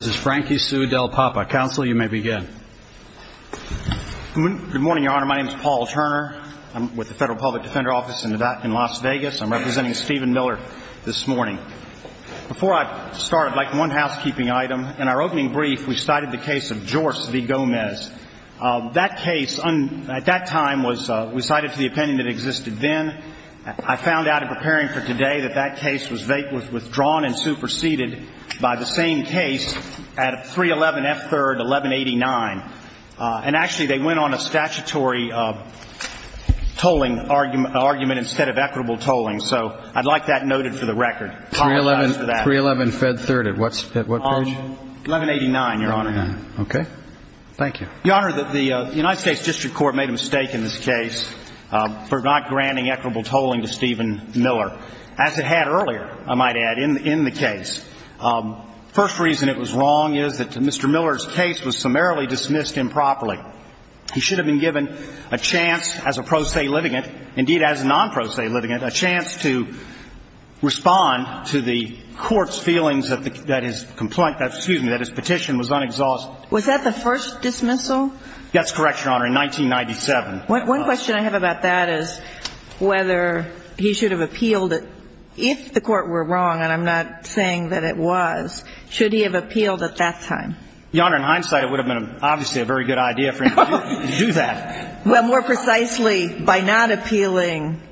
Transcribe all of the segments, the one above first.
This is Frankie Sue Del Papa. Counsel, you may begin. Good morning, Your Honor. My name is Paul Turner. I'm with the Federal Public Defender Office in Las Vegas. I'm representing Stephen Miller this morning. Before I start, I'd like one housekeeping item. In our opening brief, we cited the case of Jorce v. Gomez. That case, at that time, we cited for the opinion that existed then. I found out in preparing for today that that case was withdrawn and superseded by the same case at 311 F. 3rd, 1189. And actually, they went on a statutory tolling argument instead of equitable tolling. So I'd like that noted for the record. 311 F. 3rd at what page? 1189, Your Honor. Okay. Thank you. Your Honor, the United States District Court made a mistake in this case for not granting equitable tolling to Stephen Miller. As it had earlier, I might add, in the case. The first reason it was wrong is that Mr. Miller's case was summarily dismissed improperly. He should have been given a chance as a pro se litigant, indeed, as a non pro se litigant, a chance to respond to the Court's feelings that his petition was unexhausted. Was that the first dismissal? That's correct, Your Honor, in 1997. One question I have about that is whether he should have appealed if the Court were wrong. And I'm not saying that it was. Should he have appealed at that time? Your Honor, in hindsight, it would have been obviously a very good idea for him to do that. Well, more precisely, by not appealing,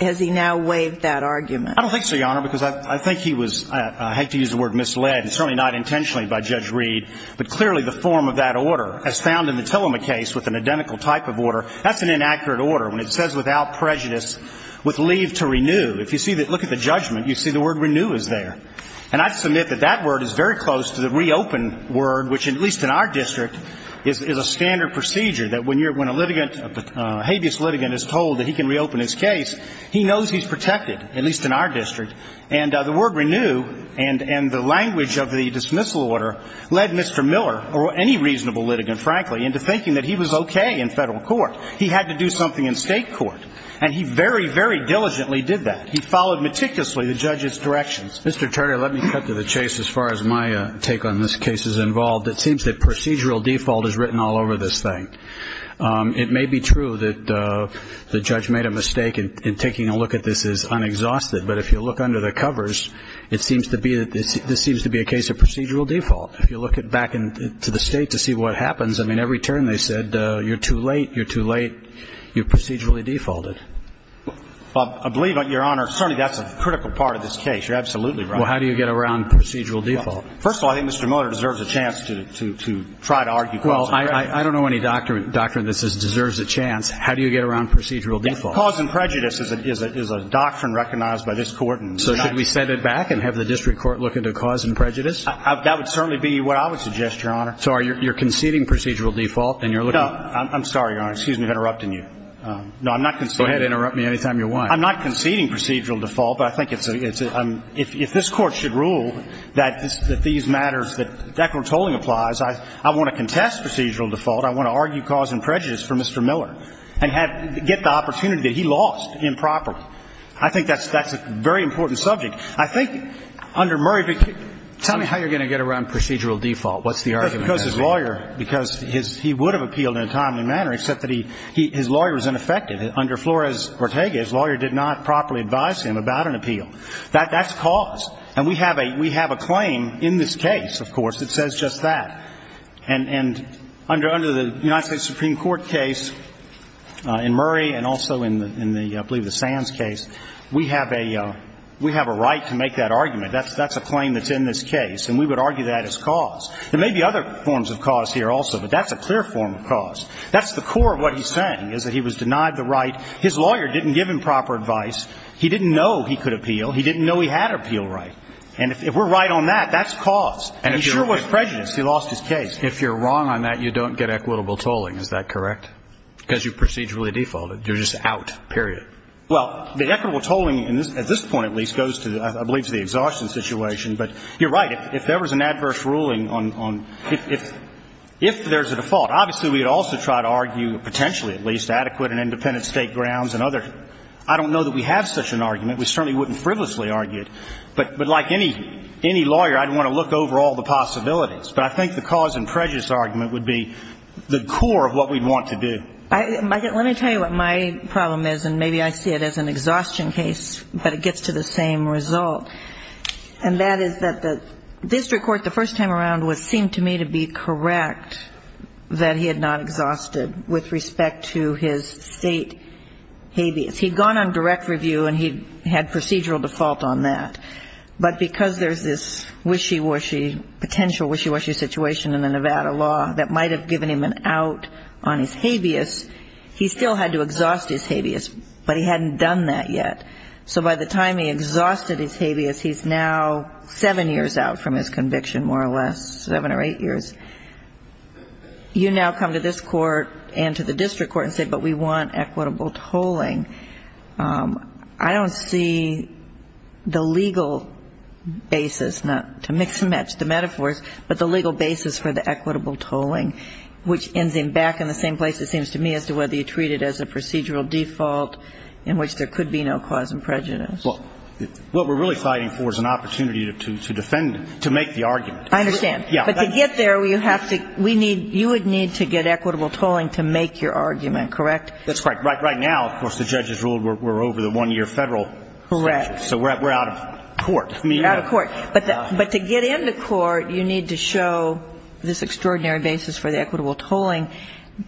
has he now waived that argument? I don't think so, Your Honor, because I think he was, I hate to use the word, misled. I think he was misled at that time. And I think he showed up to the Court, as you said, and certainly not intentionally by Judge Reed, but clearly the form of that order as found in the Tillema case with an identical type of order, that's an inaccurate order. When it says without prejudice, with leave to renew, if you see that look at the judgment, you see the word renew is there. And I submit that that word is very close to the reopen word, which at least in our district, is a standard procedure, that when you're, when a litigant, a habeas litigant is told that he can reopen his case, he knows he's protected, at least in our district. And the word renew and the language of the dismissal order led Mr. Miller, or any reasonable litigant, frankly, into thinking that he was okay in federal court. He had to do something in state court. And he very, very diligently did that. He followed meticulously the judge's directions. Mr. Turner, let me cut to the chase. As far as my take on this case is involved, it seems that procedural default is written all over this thing. It may be true that the judge made a mistake in taking a look at this as unexhausted. But if you look under the covers, it seems to be that this seems to be a case of procedural default. If you look back into the state to see what happens, I mean, every turn they said, you're too late, you're too late, you're procedurally defaulted. I believe, Your Honor, certainly that's a critical part of this case. You're absolutely right. Well, how do you get around procedural default? First of all, I think Mr. Miller deserves a chance to try to argue. Well, I don't know any doctrine that deserves a chance. How do you get around procedural default? Cause and prejudice is a doctrine recognized by this Court. So should we set it back and have the district court look into cause and prejudice? That would certainly be what I would suggest, Your Honor. So you're conceding procedural default and you're looking at – No. I'm sorry, Your Honor. Excuse me for interrupting you. No, I'm not conceding. Go ahead. Interrupt me any time you want. I'm not conceding procedural default. But I think it's – if this Court should rule that these matters that Declan Tolling applies, I want to contest procedural default. I want to argue cause and prejudice for Mr. Miller and get the opportunity that he lost improperly. I think that's a very important subject. I think under Murray – Tell me how you're going to get around procedural default. What's the argument? Because his lawyer – because he would have appealed in a timely manner, except that his lawyer was ineffective. Under Flores-Ortega, his lawyer did not properly advise him about an appeal. That's cause. And we have a claim in this case, of course, that says just that. And under the United States Supreme Court case in Murray and also in the – I believe the Sands case, we have a right to make that argument. That's a claim that's in this case. And we would argue that as cause. There may be other forms of cause here also, but that's a clear form of cause. That's the core of what he's saying, is that he was denied the right – his lawyer didn't give him proper advice. He didn't know he could appeal. He didn't know he had appeal right. And if we're right on that, that's cause. And he sure was prejudiced. He lost his case. If you're wrong on that, you don't get equitable tolling. Is that correct? Because you procedurally defaulted. You're just out, period. Well, the equitable tolling at this point, at least, goes to, I believe, to the exhaustion situation. But you're right. If there was an adverse ruling on – if there's a default, obviously we would also try to argue, potentially at least, adequate and independent state grounds and other – I don't know that we have such an argument. We certainly wouldn't frivolously argue it. But like any lawyer, I'd want to look over all the possibilities. But I think the cause and prejudice argument would be the core of what we'd want to do. Let me tell you what my problem is, and maybe I see it as an exhaustion case, but it gets to the same result. And that is that the district court, the first time around, seemed to me to be correct that he had not exhausted, with respect to his state habeas. He'd gone on direct review, and he had procedural default on that. But because there's this wishy-washy, potential wishy-washy situation in the Nevada law that might have given him an out on his habeas, he still had to exhaust his habeas. But he hadn't done that yet. So by the time he exhausted his habeas, he's now seven years out from his conviction, more or less, seven or eight years. You now come to this court and to the district court and say, but we want equitable tolling. I don't see the legal basis, not to mix and match the metaphors, but the legal basis for the equitable tolling, which ends him back in the same place, it seems to me, as to whether you treat it as a procedural default in which there could be no cause of prejudice. Well, what we're really fighting for is an opportunity to defend him, to make the argument. I understand. But to get there, you would need to get equitable tolling to make your argument, correct? That's right. Right now, of course, the judge has ruled we're over the one-year Federal statute. Correct. So we're out of court. Out of court. But to get into court, you need to show this extraordinary basis for the equitable tolling.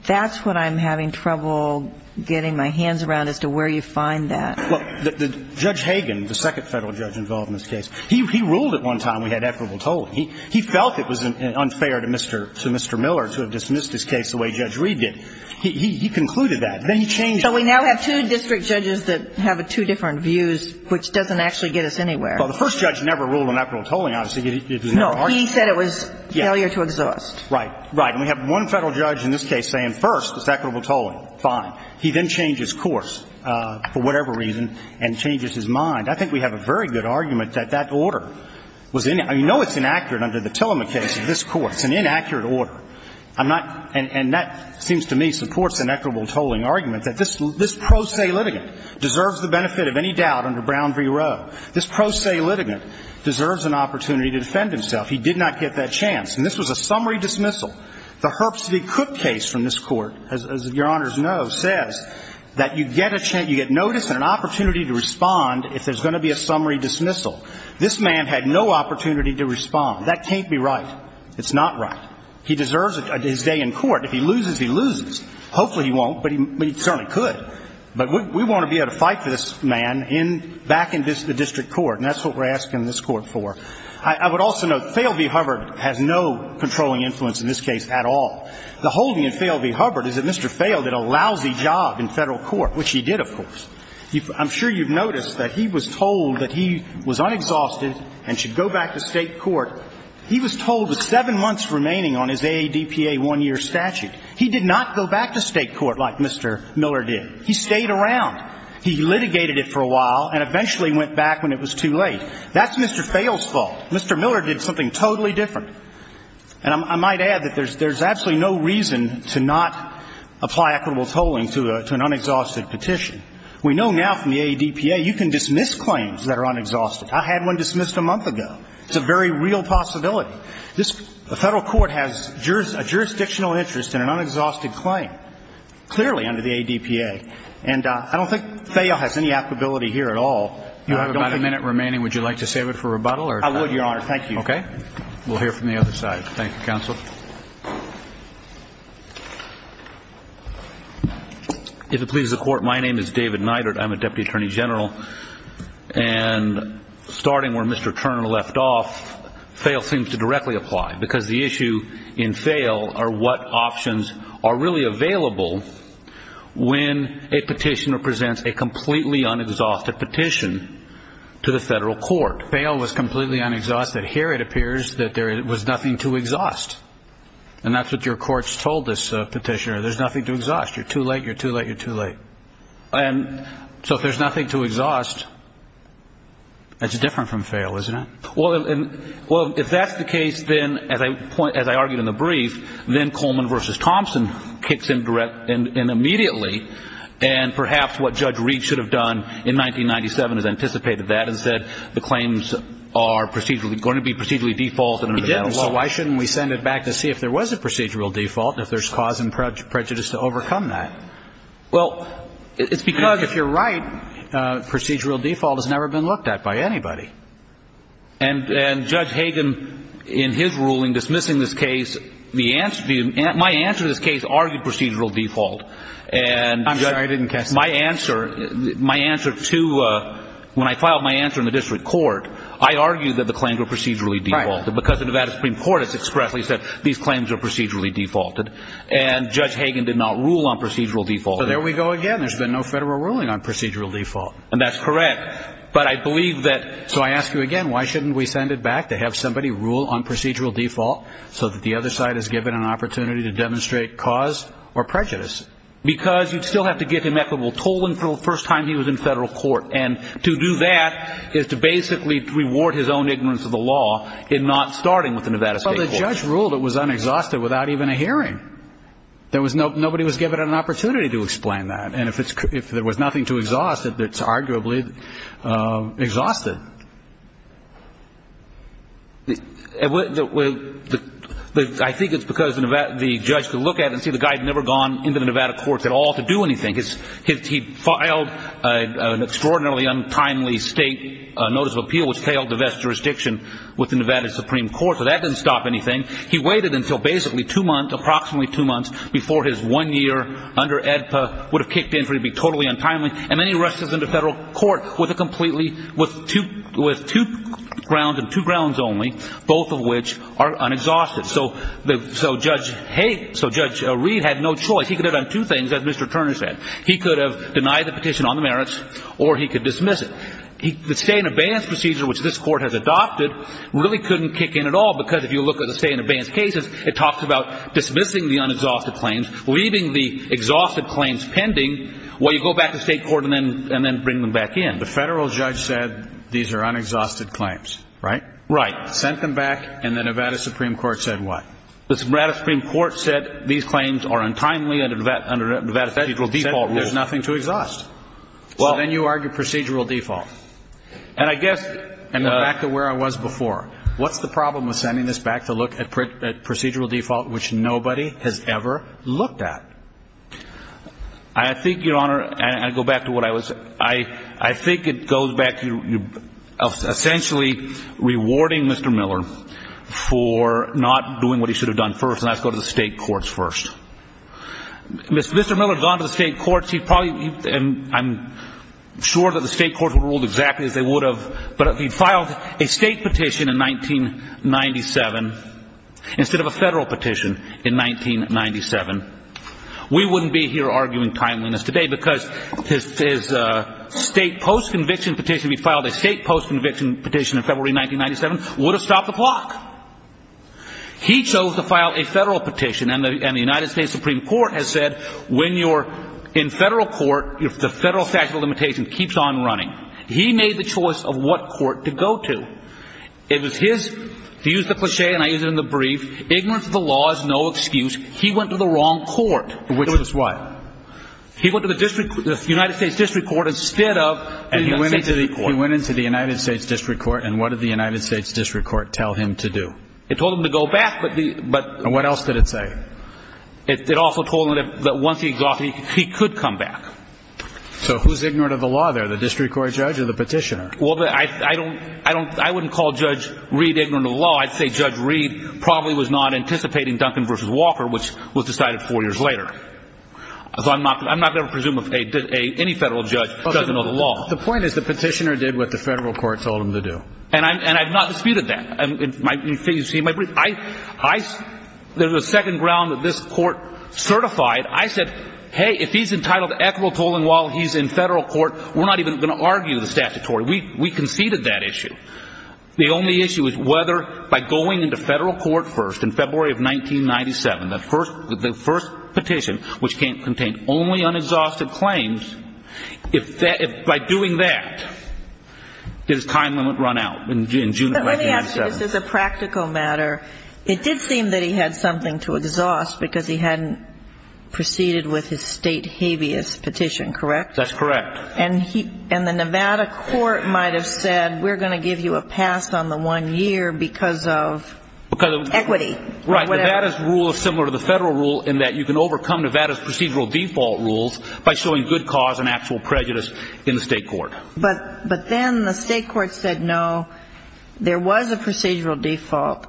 That's what I'm having trouble getting my hands around as to where you find that. Well, Judge Hagan, the second Federal judge involved in this case, he ruled at one time we had equitable tolling. He felt it was unfair to Mr. Miller to have dismissed his case the way Judge Reed did. He concluded that. Then he changed it. So we now have two district judges that have two different views, which doesn't actually get us anywhere. Well, the first judge never ruled on equitable tolling, obviously. No. He said it was failure to exhaust. Right. Right. And we have one Federal judge in this case saying, first, it's equitable tolling. Fine. He then changes course for whatever reason and changes his mind. I think we have a very good argument that that order was inaccurate. I know it's inaccurate under the Tillema case of this Court. It's an inaccurate order. I'm not – and that seems to me supports an equitable tolling argument that this pro se litigant deserves the benefit of any doubt under Brown v. Roe. This pro se litigant deserves an opportunity to defend himself. He did not get that chance. And this was a summary dismissal. The Herbst v. Cook case from this Court, as Your Honors know, says that you get a chance – you get notice and an opportunity to respond if there's going to be a summary dismissal. This man had no opportunity to respond. That can't be right. It's not right. He deserves his day in court. If he loses, he loses. Hopefully he won't, but he certainly could. But we want to be able to fight for this man back in the district court, and that's what we're asking this Court for. I would also note, Thale v. Hubbard has no controlling influence in this case at all. The holding in Thale v. Hubbard is that Mr. Thale did a lousy job in Federal court, which he did, of course. I'm sure you've noticed that he was told that he was unexhausted and should go back to State court. He was told with seven months remaining on his AADPA one-year statute. He did not go back to State court like Mr. Miller did. He stayed around. He litigated it for a while and eventually went back when it was too late. That's Mr. Thale's fault. Mr. Miller did something totally different. And I might add that there's absolutely no reason to not apply equitable tolling to an unexhausted petition. We know now from the AADPA you can dismiss claims that are unexhausted. I had one dismissed a month ago. It's a very real possibility. The Federal court has a jurisdictional interest in an unexhausted claim, clearly under the AADPA. And I don't think Thale has any applicability here at all. You have about a minute remaining. Would you like to save it for rebuttal? I would, Your Honor. Thank you. Okay. We'll hear from the other side. Thank you, Counsel. If it pleases the Court, my name is David Neidert. I'm a Deputy Attorney General. And starting where Mr. Turner left off, Thale seems to directly apply, because the issue in Thale are what options are really available when a petitioner presents a completely unexhausted petition to the Federal court. Thale was completely unexhausted. Here it appears that there was nothing to exhaust. And that's what your courts told this petitioner. There's nothing to exhaust. You're too late. You're too late. You're too late. And so if there's nothing to exhaust, that's different from Thale, isn't it? Well, if that's the case, then, as I argued in the brief, then Coleman v. Thompson kicks in immediately. And perhaps what Judge Reed should have done in 1997 is anticipated that and said the claims are going to be procedurally default. It didn't. So why shouldn't we send it back to see if there was a procedural default and if there's cause and prejudice to overcome that? Well, it's because, if you're right, procedural default has never been looked at by anybody. And Judge Hagan, in his ruling dismissing this case, my answer to this case argued procedural default. I'm sorry. I didn't catch that. My answer to when I filed my answer in the district court, I argued that the claims were procedurally defaulted. Because the Nevada Supreme Court has expressly said these claims are procedurally defaulted. And Judge Hagan did not rule on procedural default. So there we go again. There's been no federal ruling on procedural default. And that's correct. But I believe that... So I ask you again... Why shouldn't we send it back to have somebody rule on procedural default so that the other side is given an opportunity to demonstrate cause or prejudice? Because you'd still have to give him equitable tolling for the first time he was in federal court. And to do that is to basically reward his own ignorance of the law in not starting with the Nevada Supreme Court. But the judge ruled it was unexhausted without even a hearing. Nobody was given an opportunity to explain that. And if there was nothing to exhaust it, it's arguably exhausted. I think it's because the judge could look at it and see the guy had never gone into the Nevada courts at all to do anything. He filed an extraordinarily untimely state notice of appeal which failed to vest jurisdiction with the Nevada Supreme Court. So that didn't stop anything. He waited until basically two months, approximately two months, before his one year under AEDPA would have kicked in for him to be totally untimely. And then he rushes into federal court with two grounds and two grounds only, both of which are unexhausted. So Judge Reed had no choice. He could have done two things, as Mr. Turner said. He could have denied the petition on the merits or he could dismiss it. The stay in abeyance procedure which this court has adopted really couldn't kick in at all because if you look at the stay in abeyance cases, it talks about dismissing the unexhausted claims, leaving the exhausted claims pending while you go back to state court and then bring them back in. The federal judge said these are unexhausted claims, right? Right. Sent them back and the Nevada Supreme Court said what? The Nevada Supreme Court said these claims are untimely under Nevada's procedural default rule. Said there's nothing to exhaust. So then you argue procedural default. And I guess, going back to where I was before, what's the problem with sending this back to look at procedural default which nobody has ever looked at? I think, Your Honor, and I go back to what I was saying, I think it goes back to essentially rewarding Mr. Miller for not doing what he should have done first, and that's go to the state courts first. Mr. Miller had gone to the state courts. He probably, and I'm sure that the state courts would rule exactly as they would have, but he filed a state petition in 1997 instead of a federal petition in 1997. We wouldn't be here arguing timeliness today because his state post-conviction petition, he filed a state post-conviction petition in February 1997, would have stopped the clock. He chose to file a federal petition, and the United States Supreme Court has said when you're in federal court, the federal statute of limitations keeps on running. He made the choice of what court to go to. It was his, to use the cliche, and I use it in the brief, ignorance of the law is no excuse. He went to the wrong court. Which was what? He went to the United States District Court instead of the United States Supreme Court. It told him to go back. And what else did it say? It also told him that once he exhausted it, he could come back. So who's ignorant of the law there, the district court judge or the petitioner? I wouldn't call Judge Reed ignorant of the law. I'd say Judge Reed probably was not anticipating Duncan v. Walker, which was decided four years later. I'm not going to presume any federal judge doesn't know the law. The point is the petitioner did what the federal court told him to do. And I've not disputed that. There's a second ground that this court certified. I said, hey, if he's entitled to equitable tolling while he's in federal court, we're not even going to argue the statutory. We conceded that issue. The only issue is whether by going into federal court first in February of 1997, the first petition, which contained only unexhausted claims, if by doing that his time limit run out in June of 1997. But let me ask you, this is a practical matter. It did seem that he had something to exhaust because he hadn't proceeded with his state habeas petition, correct? That's correct. And the Nevada court might have said we're going to give you a pass on the one year because of equity or whatever. Right. Nevada's rule is similar to the federal rule in that you can overcome Nevada's procedural default rules by showing good cause and actual prejudice in the state court. But then the state court said no, there was a procedural default,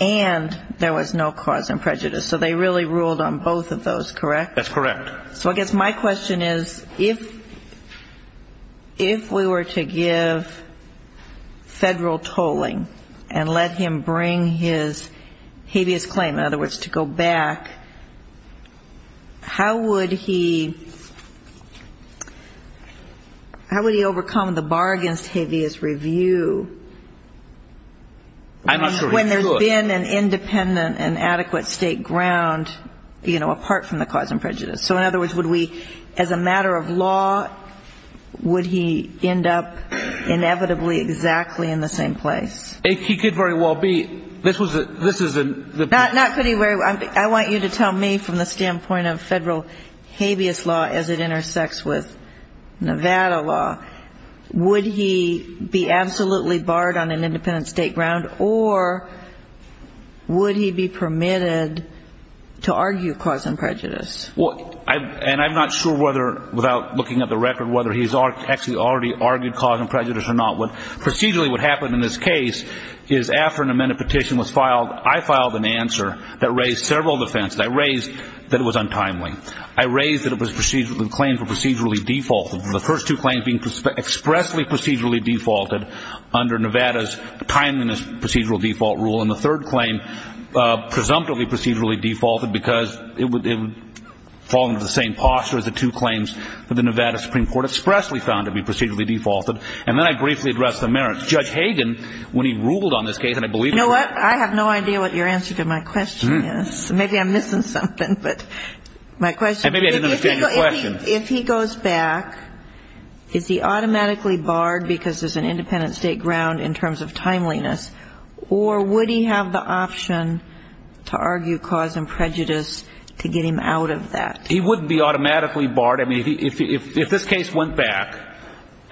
and there was no cause and prejudice. So they really ruled on both of those, correct? That's correct. So I guess my question is, if we were to give federal tolling and let him bring his habeas claim, in other words, to go back, how would he overcome the bar against habeas review when there's been an independent and adequate state ground, you know, in other words, would we, as a matter of law, would he end up inevitably exactly in the same place? He could very well be. This is a... Not could he very well. I want you to tell me from the standpoint of federal habeas law as it intersects with Nevada law, would he be absolutely barred on an independent state ground, or would he be permitted to argue cause and prejudice? Well, and I'm not sure whether, without looking at the record, whether he's actually already argued cause and prejudice or not. Procedurally what happened in this case is after an amended petition was filed, I filed an answer that raised several defenses. I raised that it was untimely. I raised that it was a claim for procedurally default. The first two claims being expressly procedurally defaulted under Nevada's timeliness procedural default rule, and the third claim presumptively procedurally defaulted because it would fall into the same posture as the two claims that the Nevada Supreme Court expressly found to be procedurally defaulted. And then I briefly addressed the merits. Judge Hagan, when he ruled on this case, and I believe... You know what? I have no idea what your answer to my question is. Maybe I'm missing something, but my question... And maybe I didn't understand your question. If he goes back, is he automatically barred because there's an independent state ground in terms of timeliness, or would he have the option to argue cause and prejudice to get him out of that? He wouldn't be automatically barred. I mean, if this case went back,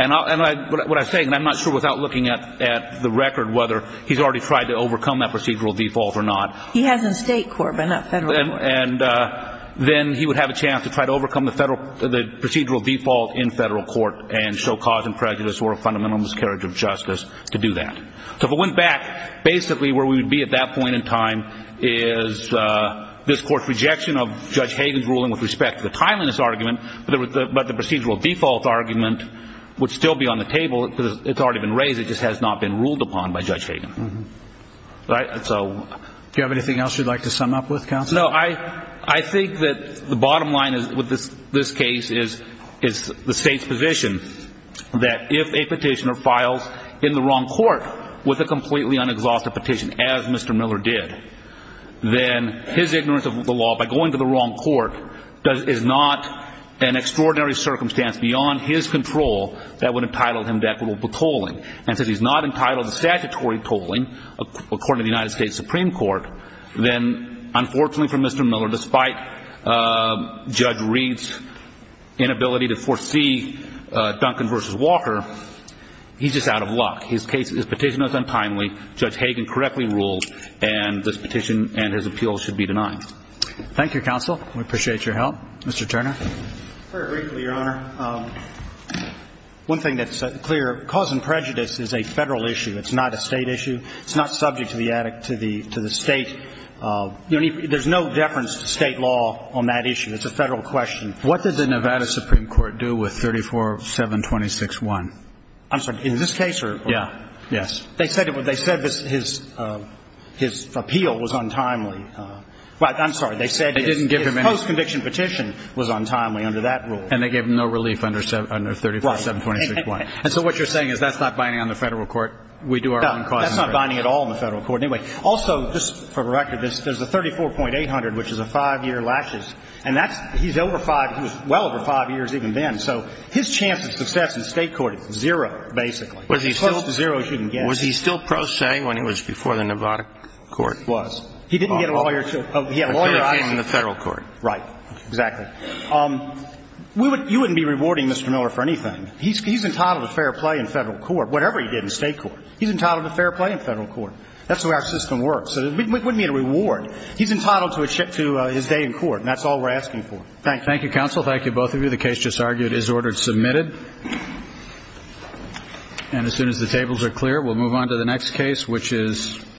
and what I'm saying, and I'm not sure without looking at the record whether he's already tried to overcome that procedural default or not... He has in state court, but not federal court. And then he would have a chance to try to overcome the procedural default in federal court and show cause and prejudice or a fundamental miscarriage of justice to do that. So if it went back, basically where we would be at that point in time is this Court's rejection of Judge Hagan's ruling with respect to the timeliness argument, but the procedural default argument would still be on the table. It's already been raised. It just has not been ruled upon by Judge Hagan. Do you have anything else you'd like to sum up with, counsel? No. I think that the bottom line with this case is the state's position that if a petitioner files in the wrong court, with a completely unexhausted petition, as Mr. Miller did, then his ignorance of the law by going to the wrong court is not an extraordinary circumstance beyond his control that would entitle him to equitable tolling. And since he's not entitled to statutory tolling, according to the United States Supreme Court, then unfortunately for Mr. Miller, despite Judge Reed's inability to foresee Duncan v. Walker, he's just out of luck. His petition was untimely. Judge Hagan correctly ruled, and this petition and his appeal should be denied. Thank you, counsel. We appreciate your help. Mr. Turner. Very briefly, Your Honor. One thing that's clear, cause and prejudice is a federal issue. It's not a state issue. It's not subject to the state. There's no deference to state law on that issue. It's a federal question. What did the Nevada Supreme Court do with 34-726-1? I'm sorry. In this case or? Yeah. Yes. They said his appeal was untimely. Well, I'm sorry. They said his post-conviction petition was untimely under that rule. And they gave him no relief under 34-726-1. Right. And so what you're saying is that's not binding on the federal court? No, that's not binding at all on the federal court. Anyway, also, just for the record, there's a 34.800, which is a five-year laches. And that's, he's over five, he was well over five years even then. So his chance of success in state court is zero, basically. Was he still? Close to zero, as you can guess. Was he still pro se when he was before the Nevada court? Was. He didn't get a lawyer, he had a lawyer on him. In the federal court. Right. Exactly. You wouldn't be rewarding Mr. Miller for anything. He's entitled to fair play in federal court, whatever he did in state court. He's entitled to fair play in federal court. That's the way our system works. It wouldn't be a reward. He's entitled to his day in court, and that's all we're asking for. Thank you. Thank you, counsel. Thank you, both of you. The case just argued is ordered submitted. And as soon as the tables are clear, we'll move on to the next case, which is.